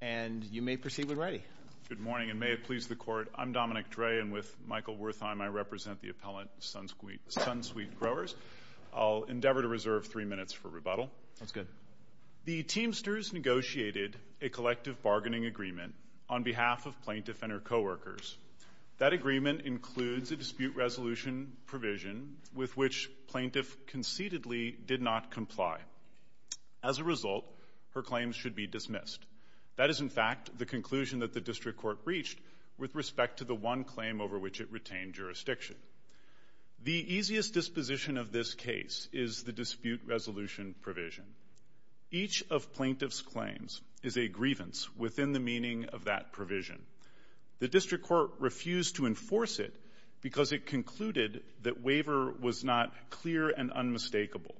And you may proceed when ready. Good morning, and may it please the Court. I'm Dominic Dre, and with Michael Wertheim, I represent the appellant, Sunsweet Growers. I'll endeavor to reserve three minutes for rebuttal. That's good. The Teamsters negotiated a collective bargaining agreement on behalf of Plaintiff and her coworkers. That agreement includes a dispute resolution provision with which Plaintiff conceitedly did not comply. As a result, her claims should be dismissed. That is, in fact, the conclusion that the District Court reached with respect to the one claim over which it retained jurisdiction. The easiest disposition of this case is the dispute resolution provision. Each of Plaintiff's claims is a grievance within the meaning of that provision. The District Court refused to enforce it because it concluded that waiver was not clear and unmistakable.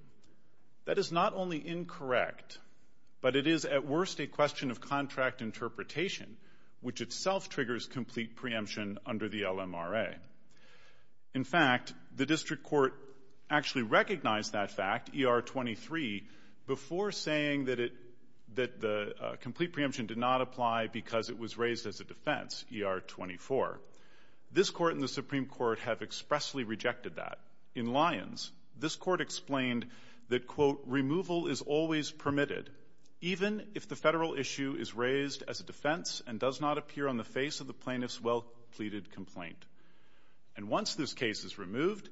That is not only incorrect, but it is, at worst, a question of contract interpretation, which itself triggers complete preemption under the LMRA. In fact, the District Court actually recognized that fact, E.R. 23, before saying that the complete preemption did not apply because it was raised as a defense, E.R. 24. This Court and the Supreme Court have expressly rejected that. In Lyons, this Court explained that, quote, removal is always permitted, even if the Federal issue is raised as a defense and does not appear on the face of the Plaintiff's well-pleaded complaint. And once this case is removed,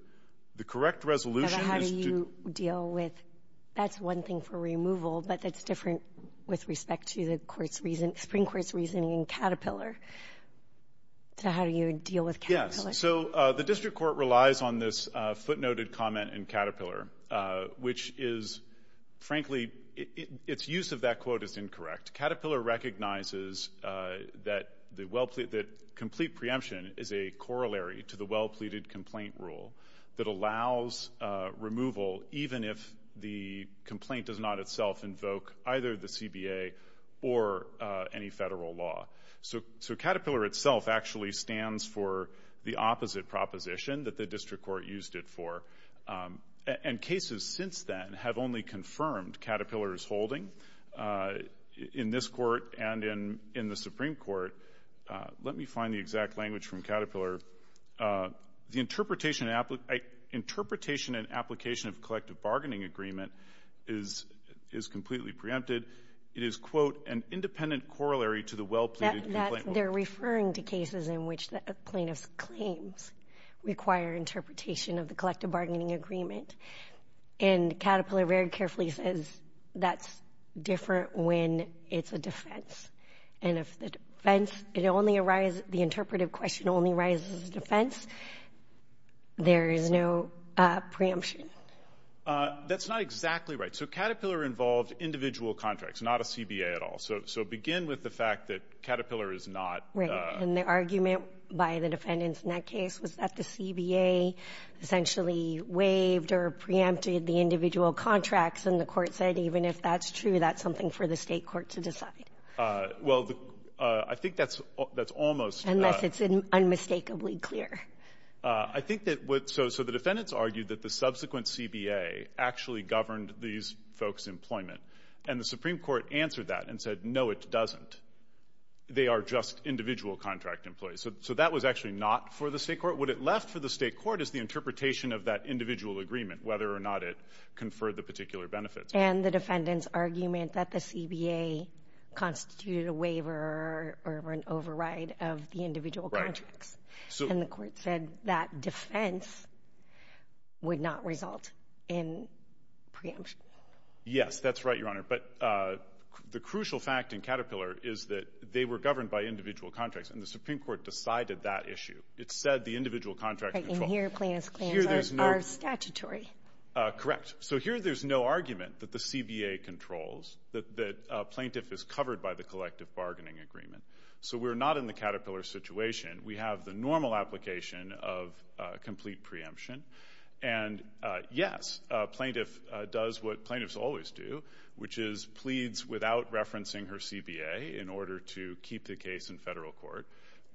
the correct resolution is to — But how do you deal with — that's one thing for removal, but that's different with respect to the Supreme Court's reasoning in Caterpillar. So how do you deal with Caterpillar? Yes. So the District Court relies on this footnoted comment in Caterpillar, which is, frankly, its use of that quote is incorrect. Caterpillar recognizes that complete preemption is a corollary to the well-pleaded complaint rule that allows removal even if the complaint does not itself invoke either the CBA or any Federal law. So Caterpillar itself actually stands for the opposite proposition that the District Court used it for. And cases since then have only confirmed Caterpillar's holding in this Court and in the Supreme Court. Let me find the exact language from Caterpillar. The interpretation and application of collective bargaining agreement is completely preempted. It is, quote, an independent corollary to the well-pleaded complaint rule. They're referring to cases in which the plaintiff's claims require interpretation of the collective bargaining agreement. And Caterpillar very carefully says that's different when it's a defense. And if the defense — it only arises — the interpretive question only arises as a defense, there is no preemption. That's not exactly right. So Caterpillar involved individual contracts, not a CBA at all. So begin with the fact that Caterpillar is not — And the argument by the defendants in that case was that the CBA essentially waived or preempted the individual contracts. And the Court said even if that's true, that's something for the State court to decide. Well, I think that's almost — Unless it's unmistakably clear. I think that — so the defendants argued that the subsequent CBA actually governed these folks' employment. And the Supreme Court answered that and said, no, it doesn't. They are just individual contract employees. So that was actually not for the State court. What it left for the State court is the interpretation of that individual agreement, whether or not it conferred the particular benefits. And the defendants' argument that the CBA constituted a waiver or an override of the individual contracts. And the Court said that defense would not result in preemption. Yes, that's right, Your Honor. But the crucial fact in Caterpillar is that they were governed by individual contracts. And the Supreme Court decided that issue. It said the individual contracts control. And here plaintiffs' claims are statutory. Correct. So here there's no argument that the CBA controls, that a plaintiff is covered by the collective bargaining agreement. So we're not in the Caterpillar situation. We have the normal application of complete preemption. And, yes, a plaintiff does what plaintiffs always do, which is pleads without referencing her CBA in order to keep the case in federal court.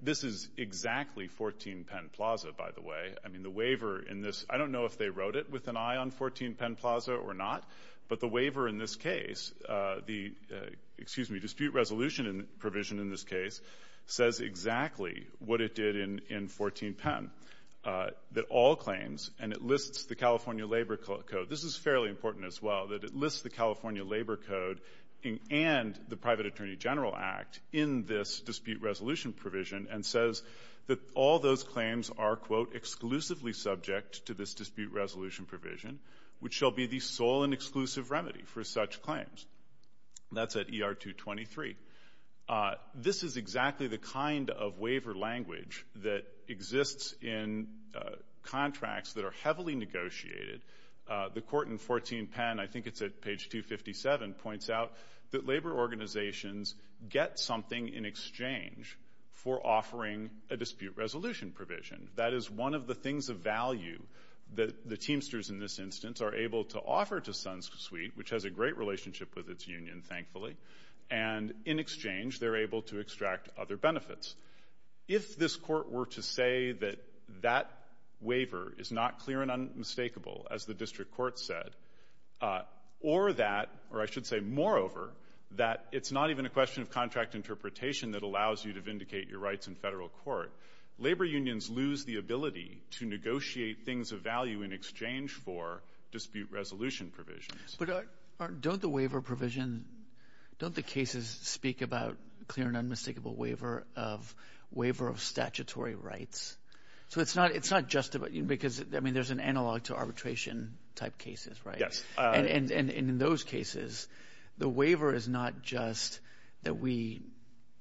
This is exactly 14 Penn Plaza, by the way. I mean, the waiver in this, I don't know if they wrote it with an eye on 14 Penn Plaza or not, but the waiver in this case, the dispute resolution provision in this case, says exactly what it did in 14 Penn, that all claims, and it lists the California Labor Code. This is fairly important as well, that it lists the California Labor Code and the Private Attorney General Act in this dispute resolution provision and says that all those claims are, quote, exclusively subject to this dispute resolution provision, which shall be the sole and exclusive remedy for such claims. That's at ER 223. This is exactly the kind of waiver language that exists in contracts that are heavily negotiated. The court in 14 Penn, I think it's at page 257, points out that labor organizations get something in exchange for offering a dispute resolution provision. That is one of the things of value that the Teamsters in this instance are able to offer to SunSuite, which has a great relationship with its union, thankfully. And in exchange, they're able to extract other benefits. If this court were to say that that waiver is not clear and unmistakable, as the district court said, or that, or I should say, moreover, that it's not even a question of contract interpretation that allows you to vindicate your rights in federal court, labor unions lose the ability to negotiate things of value in exchange for dispute resolution provisions. But don't the waiver provision, don't the cases speak about clear and unmistakable waiver of statutory rights? So it's not just because, I mean, there's an analog to arbitration-type cases, right? Yes. And in those cases, the waiver is not just that we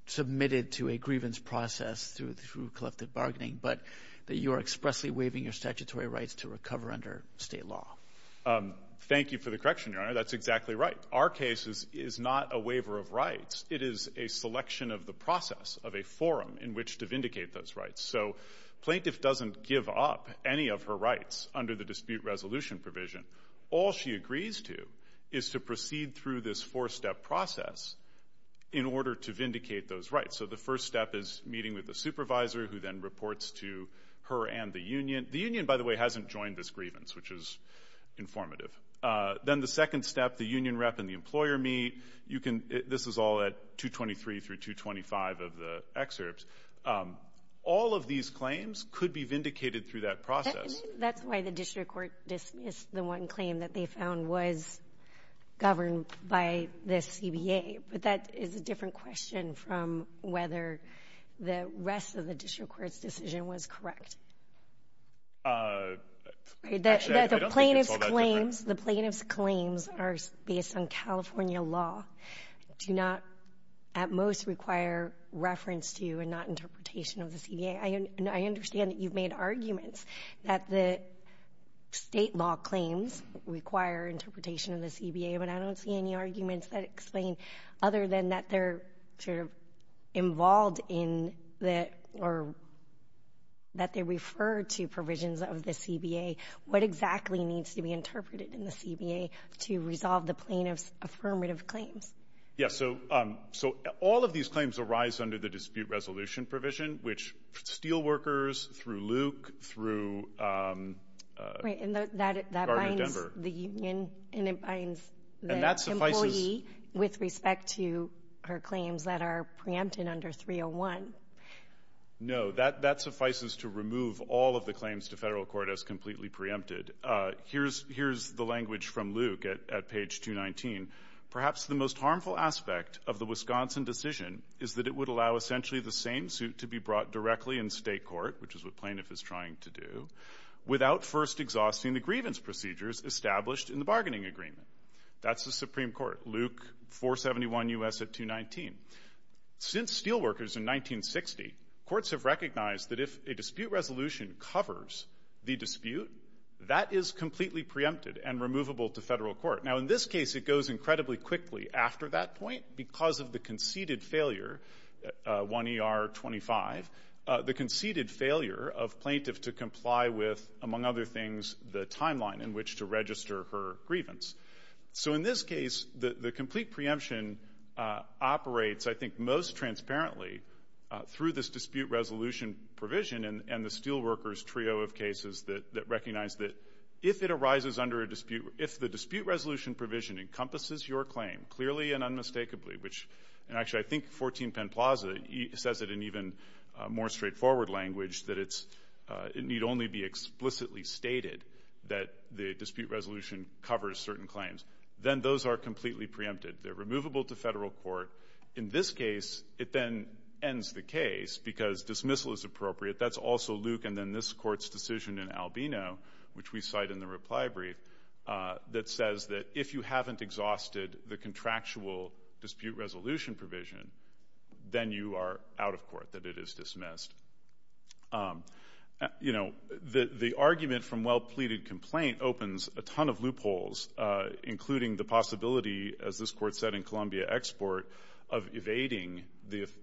submitted to a grievance process through collective bargaining, but that you are expressly waiving your statutory rights to recover under State law. Thank you for the correction, Your Honor. That's exactly right. Our case is not a waiver of rights. It is a selection of the process of a forum in which to vindicate those rights. So plaintiff doesn't give up any of her rights under the dispute resolution provision. All she agrees to is to proceed through this four-step process in order to vindicate those rights. So the first step is meeting with the supervisor, who then reports to her and the union. The union, by the way, hasn't joined this grievance, which is informative. Then the second step, the union rep and the employer meet. This is all at 223 through 225 of the excerpts. All of these claims could be vindicated through that process. That's why the district court dismissed the one claim that they found was governed by the CBA. But that is a different question from whether the rest of the district court's decision was correct. Actually, I don't think it's all that different. The plaintiff's claims are based on California law, do not at most require reference to and not interpretation of the CBA. I understand that you've made arguments that the State law claims require interpretation of the CBA, but I don't see any arguments that explain, other than that they're sort of involved in that or that they refer to provisions of the CBA, what exactly needs to be interpreted in the CBA to resolve the plaintiff's affirmative claims. Yes, so all of these claims arise under the dispute resolution provision, which Steelworkers, through Luke, through Gardner Denver. Right, and that binds the union and it binds the employee with respect to her claims that are preempted under 301. No, that suffices to remove all of the claims to federal court as completely preempted. Here's the language from Luke at page 219. Perhaps the most harmful aspect of the Wisconsin decision is that it would allow essentially the same suit to be brought directly in state court, which is what plaintiff is trying to do, without first exhausting the grievance procedures established in the bargaining agreement. That's the Supreme Court, Luke 471 U.S. at 219. Since Steelworkers in 1960, courts have recognized that if a dispute resolution covers the dispute, that is completely preempted and removable to federal court. Now, in this case, it goes incredibly quickly after that point because of the conceded failure, 1ER25, the conceded failure of plaintiff to comply with, among other things, the timeline in which to register her grievance. So in this case, the complete preemption operates, I think, most transparently through this dispute resolution provision and the Steelworkers trio of cases that recognize that if it arises under a dispute, if the dispute resolution provision encompasses your claim clearly and unmistakably, which actually I think 14 Penn Plaza says it in even more straightforward language, that it need only be explicitly stated that the dispute resolution covers certain claims, then those are completely preempted. They're removable to federal court. In this case, it then ends the case because dismissal is appropriate. That's also Luke and then this court's decision in Albino, which we cite in the reply brief, that says that if you haven't exhausted the contractual dispute resolution provision, then you are out of court, that it is dismissed. You know, the argument from well-pleaded complaint opens a ton of loopholes, including the possibility, as this court said in Columbia Export, of evading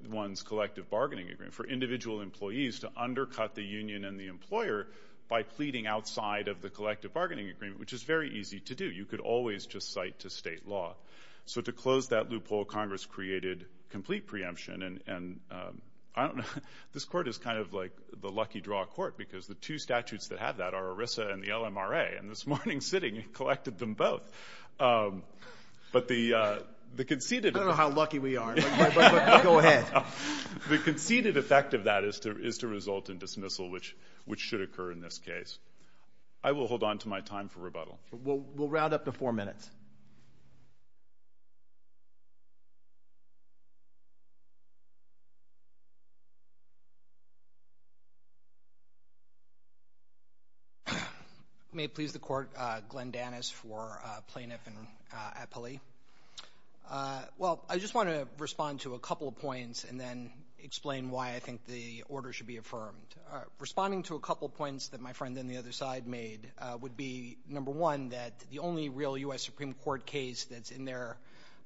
one's collective bargaining agreement, for individual employees to undercut the union and the employer by pleading outside of the collective bargaining agreement, which is very easy to do. You could always just cite to state law. So to close that loophole, Congress created complete preemption. And I don't know. This court is kind of like the lucky draw court because the two statutes that have that are ERISA and the LMRA. And this morning sitting, it collected them both. I don't know how lucky we are, but go ahead. The conceded effect of that is to result in dismissal, which should occur in this case. I will hold on to my time for rebuttal. We'll round up to four minutes. May it please the court, Glenn Danis for plaintiff and appellee. Well, I just want to respond to a couple of points and then explain why I think the order should be affirmed. Responding to a couple of points that my friend on the other side made would be, number one, that the only real U.S. Supreme Court case that's in there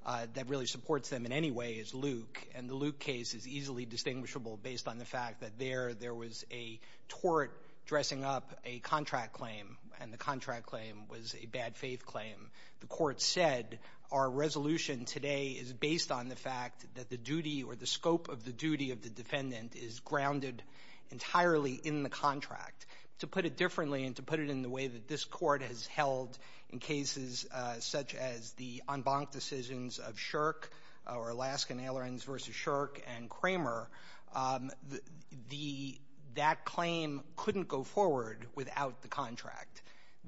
that really supports them in any way is Luke. And the Luke case is easily distinguishable based on the fact that there was a tort dressing up a contract claim, and the contract claim was a bad faith claim. The court said our resolution today is based on the fact that the duty or the scope of the duty of the defendant is grounded entirely in the contract. To put it differently and to put it in the way that this court has held in cases such as the en banc decisions of Shirk or Alaskan Ailerons versus Shirk and Kramer, that claim couldn't go forward without the contract.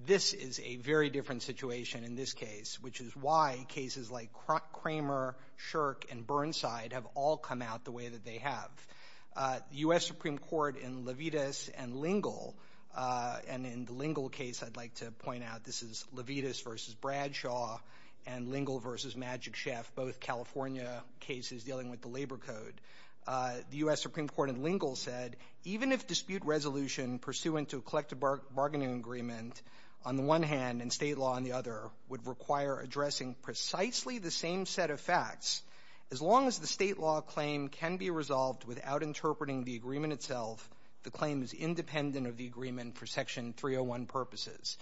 This is a very different situation in this case, which is why cases like Kramer, Shirk, and Burnside have all come out the way that they have. The U.S. Supreme Court in Levitas and Lingle, and in the Lingle case I'd like to point out, this is Levitas versus Bradshaw and Lingle versus Magic Chef, both California cases dealing with the labor code. The U.S. Supreme Court in Lingle said, even if dispute resolution pursuant to a collective bargaining agreement on the one hand and state law on the other would require addressing precisely the same set of facts, as long as the state law claim can be resolved without interpreting the agreement itself, the claim is independent of the agreement for Section 301 purposes.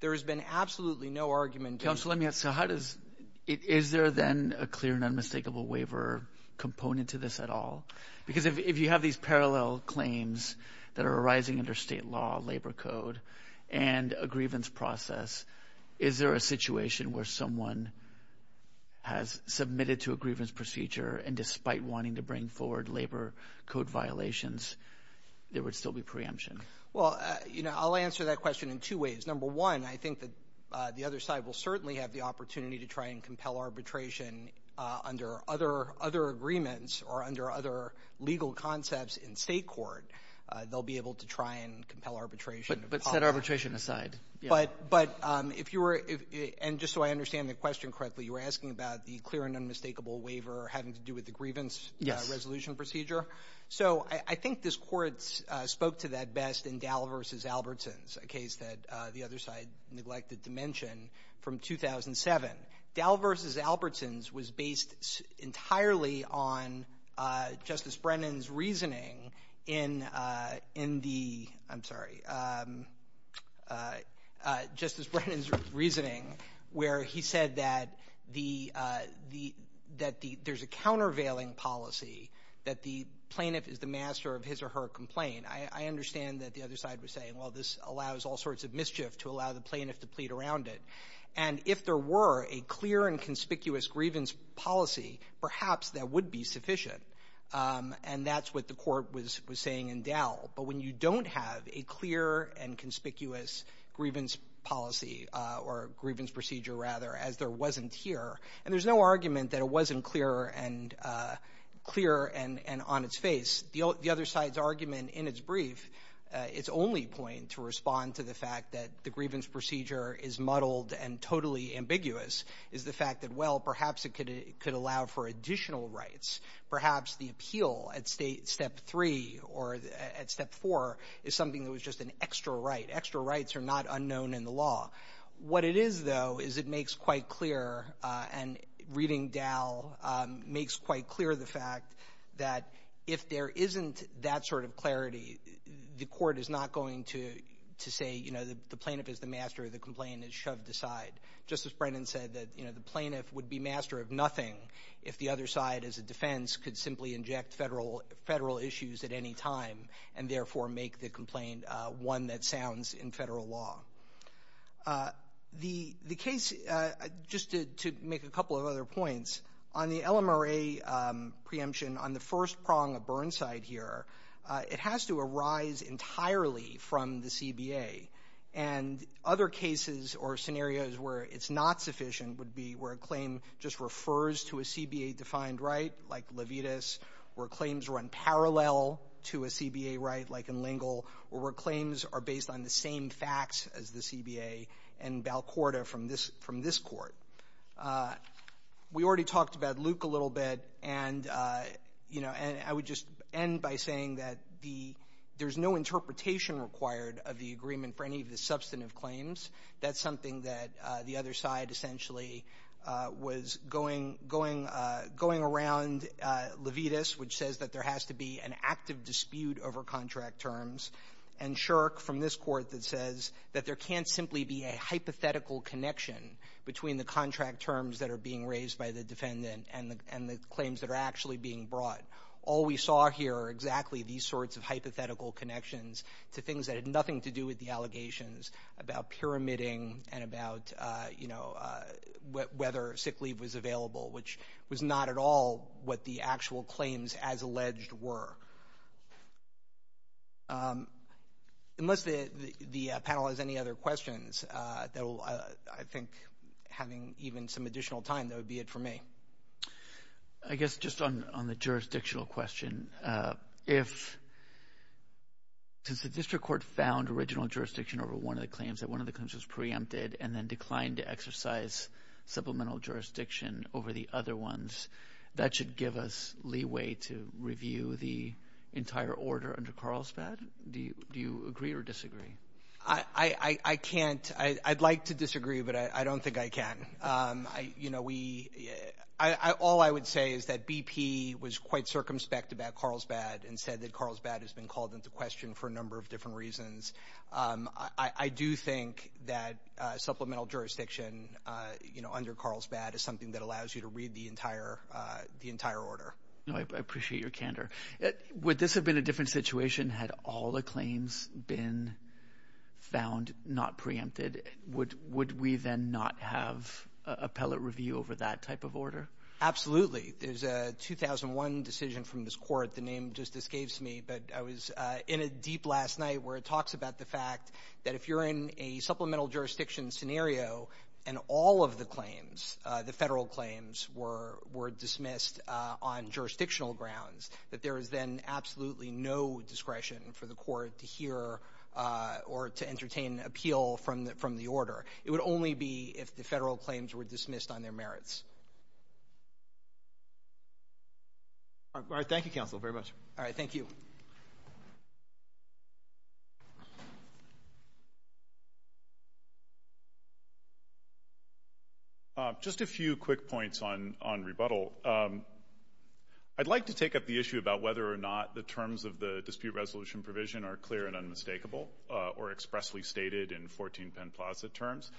There has been absolutely no argument. Counsel, let me ask. So how does – is there then a clear and unmistakable waiver component to this at all? Because if you have these parallel claims that are arising under state law, labor code, and a grievance process, is there a situation where someone has submitted to a grievance procedure and despite wanting to bring forward labor code violations there would still be preemption? Well, you know, I'll answer that question in two ways. Number one, I think that the other side will certainly have the opportunity to try and compel arbitration under other agreements or under other legal concepts in state court. They'll be able to try and compel arbitration. But set arbitration aside. But if you were – and just so I understand the question correctly, you were asking about the clear and unmistakable waiver having to do with the grievance resolution procedure? So I think this Court spoke to that best in Dall v. Albertson's, a case that the other side neglected to mention, from 2007. Dall v. Albertson's was based entirely on Justice Brennan's reasoning in the – I'm sorry. Justice Brennan's reasoning where he said that the – that there's a countervailing policy that the plaintiff is the master of his or her complaint. I understand that the other side was saying, well, this allows all sorts of mischief to allow the plaintiff to plead around it. And if there were a clear and conspicuous grievance policy, perhaps that would be sufficient. And that's what the Court was saying in Dall. But when you don't have a clear and conspicuous grievance policy or grievance procedure, rather, as there wasn't here – and there's no argument that it wasn't clear and on its face. The other side's argument in its brief, its only point to respond to the fact that the grievance procedure is muddled and totally ambiguous is the fact that, well, perhaps it could allow for additional rights. Perhaps the appeal at State – Step 3 or at Step 4 is something that was just an extra right. Extra rights are not unknown in the law. What it is, though, is it makes quite clear, and reading Dall makes quite clear the fact that if there isn't that sort of clarity, the Court is not going to say, you know, the plaintiff is the master, the complaint is shoved aside. Justice Brennan said that, you know, the plaintiff would be master of nothing if the other side as a defense could simply inject Federal issues at any time and therefore make the complaint one that sounds in Federal law. The case – just to make a couple of other points, on the LMRA preemption, on the first prong of Burnside here, it has to arise entirely from the CBA. And other cases or scenarios where it's not sufficient would be where a claim just refers to a CBA-defined right, like Levitas, where claims run parallel to a CBA right, like in Lingle, or where claims are based on the same facts as the CBA and Balcorda from this Court. We already talked about Luke a little bit, and, you know, I would just end by saying that there's no interpretation required of the agreement for any of the substantive claims. That's something that the other side essentially was going around Levitas, which says that there has to be an active dispute over contract terms, and Shirk from this Court that says that there can't simply be a hypothetical connection between the contract terms that are being raised by the defendant and the claims that are actually being brought. All we saw here are exactly these sorts of hypothetical connections to things that had nothing to do with the allegations about pyramiding and about, you know, whether sick leave was available, which was not at all what the actual claims as alleged were. Unless the panel has any other questions, I think having even some additional time, that would be it for me. I guess just on the jurisdictional question, since the District Court found original jurisdiction over one of the claims, that one of the claims was preempted and then declined to exercise supplemental jurisdiction over the other ones, that should give us leeway to review the entire order under Carlsbad. Do you agree or disagree? I can't. I'd like to disagree, but I don't think I can. You know, all I would say is that BP was quite circumspect about Carlsbad and said that Carlsbad has been called into question for a number of different reasons. I do think that supplemental jurisdiction under Carlsbad is something that allows you to read the entire order. I appreciate your candor. Would this have been a different situation had all the claims been found not preempted? Would we then not have appellate review over that type of order? Absolutely. There's a 2001 decision from this court. The name just escapes me, but I was in a deep last night where it talks about the fact that if you're in a supplemental jurisdiction scenario and all of the claims, the federal claims, were dismissed on jurisdictional grounds, that there is then absolutely no discretion for the court to hear or to entertain appeal from the order. It would only be if the federal claims were dismissed on their merits. All right. Thank you, counsel, very much. Thank you. Just a few quick points on rebuttal. I'd like to take up the issue about whether or not the terms of the dispute resolution provision are clear and unmistakable or expressly stated in 14 Penn Plaza terms.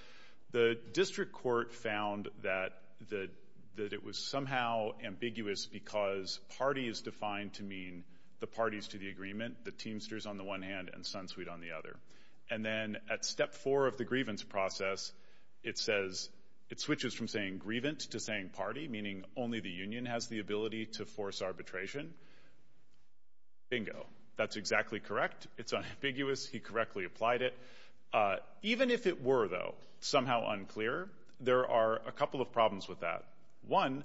The district court found that it was somehow ambiguous because party is defined to mean the parties to the agreement, the Teamsters on the one hand and SunSuite on the other. And then at step four of the grievance process, it says it switches from saying grievance to saying party, meaning only the union has the ability to force arbitration. Bingo. That's exactly correct. It's unambiguous. He correctly applied it. Even if it were, though, somehow unclear, there are a couple of problems with that. One,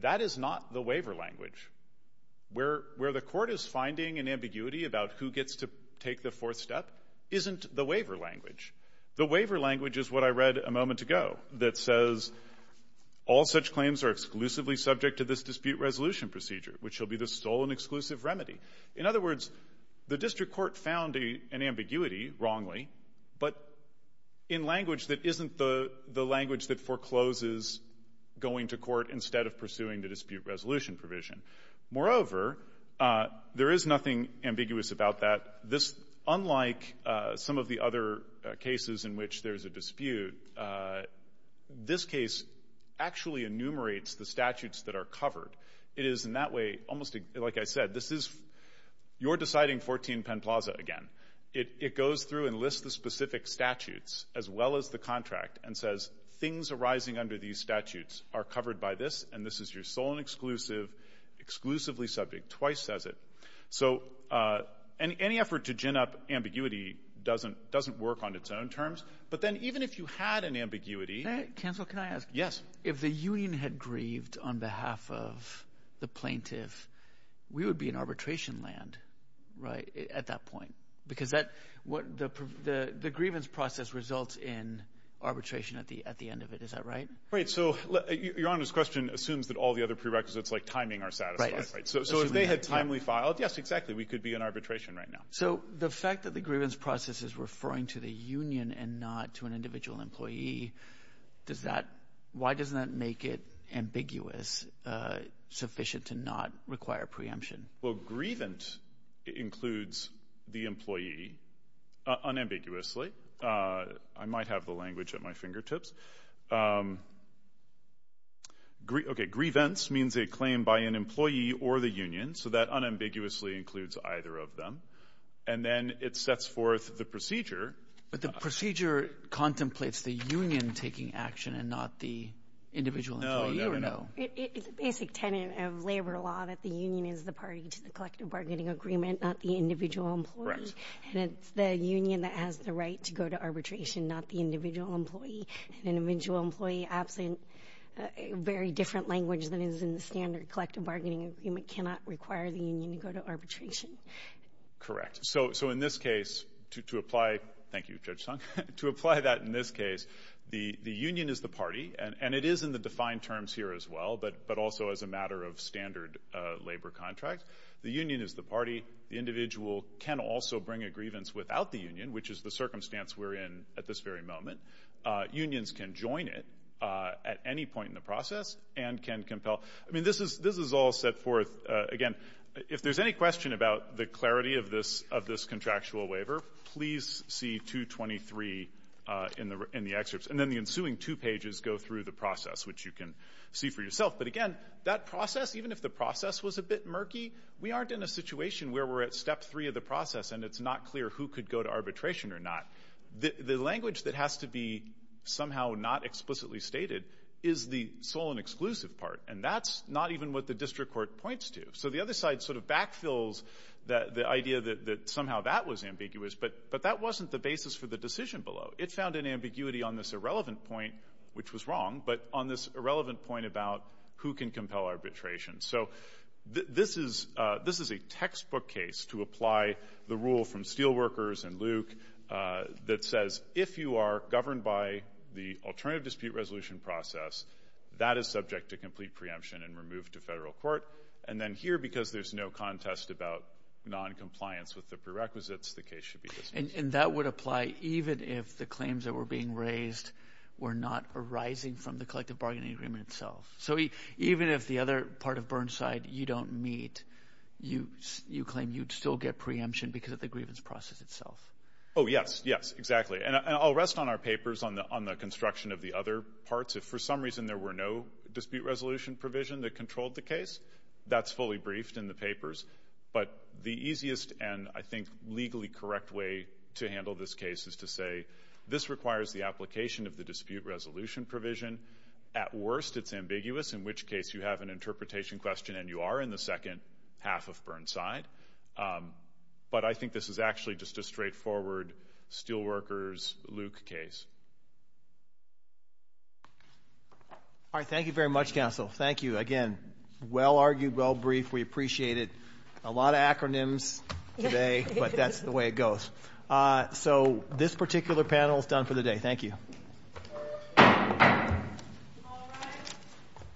that is not the waiver language. Where the court is finding an ambiguity about who gets to take the fourth step isn't the waiver language. The waiver language is what I read a moment ago that says, all such claims are exclusively subject to this dispute resolution procedure, which will be the stolen exclusive remedy. In other words, the district court found an ambiguity, wrongly, but in language that isn't the language that forecloses going to court instead of pursuing the dispute resolution provision. Moreover, there is nothing ambiguous about that. Unlike some of the other cases in which there is a dispute, this case actually enumerates the statutes that are covered. It is, in that way, almost like I said, this is your deciding 14 Penn Plaza again. It goes through and lists the specific statutes as well as the contract and says things arising under these statutes are covered by this, and this is your stolen exclusive, exclusively subject. Twice says it. So any effort to gin up ambiguity doesn't work on its own terms. But then even if you had an ambiguity. Counsel, can I ask? Yes. If the union had grieved on behalf of the plaintiff, we would be in arbitration land, right, at that point, because the grievance process results in arbitration at the end of it. Is that right? Right. So Your Honor's question assumes that all the other prerequisites, like timing, are satisfied. Right. So if they had timely filed, yes, exactly, we could be in arbitration right now. So the fact that the grievance process is referring to the union and not to an individual employee, why doesn't that make it ambiguous, sufficient to not require preemption? Well, grievance includes the employee unambiguously. I might have the language at my fingertips. Okay, grievance means a claim by an employee or the union, so that unambiguously includes either of them. And then it sets forth the procedure. But the procedure contemplates the union taking action and not the individual employee, or no? It's a basic tenet of labor law that the union is the party to the collective bargaining agreement, not the individual employee. Correct. And it's the union that has the right to go to arbitration, not the individual employee. An individual employee, absent very different language than is in the standard collective bargaining agreement, cannot require the union to go to arbitration. Correct. So in this case, to apply that in this case, the union is the party, and it is in the defined terms here as well, but also as a matter of standard labor contract. The union is the party. The individual can also bring a grievance without the union, which is the circumstance we're in at this very moment. Unions can join it at any point in the process and can compel. I mean, this is all set forth, again, if there's any question about the clarity of this contractual waiver, please see 223 in the excerpts. And then the ensuing two pages go through the process, which you can see for yourself. But, again, that process, even if the process was a bit murky, we aren't in a situation where we're at step three of the process and it's not clear who could go to arbitration or not. The language that has to be somehow not explicitly stated is the sole and exclusive part, and that's not even what the district court points to. So the other side sort of backfills the idea that somehow that was ambiguous, but that wasn't the basis for the decision below. It found an ambiguity on this irrelevant point, which was wrong, but on this irrelevant point about who can compel arbitration. So this is a textbook case to apply the rule from Steelworkers and Luke that says if you are governed by the alternative dispute resolution process, that is subject to complete preemption and removed to federal court. And then here, because there's no contest about noncompliance with the prerequisites, the case should be dismissed. And that would apply even if the claims that were being raised were not arising from the collective bargaining agreement itself. So even if the other part of Burnside you don't meet, you claim you'd still get preemption because of the grievance process itself. Oh, yes, yes, exactly. And I'll rest on our papers on the construction of the other parts. If for some reason there were no dispute resolution provision that controlled the case, that's fully briefed in the papers. But the easiest and I think legally correct way to handle this case is to say this requires the application of the dispute resolution provision. At worst, it's ambiguous, in which case you have an interpretation question and you are in the second half of Burnside. But I think this is actually just a straightforward Steelworkers Luke case. All right. Thank you very much, counsel. Thank you again. Well argued, well briefed. We appreciate it. A lot of acronyms today, but that's the way it goes. So this particular panel is done for the day. Thank you.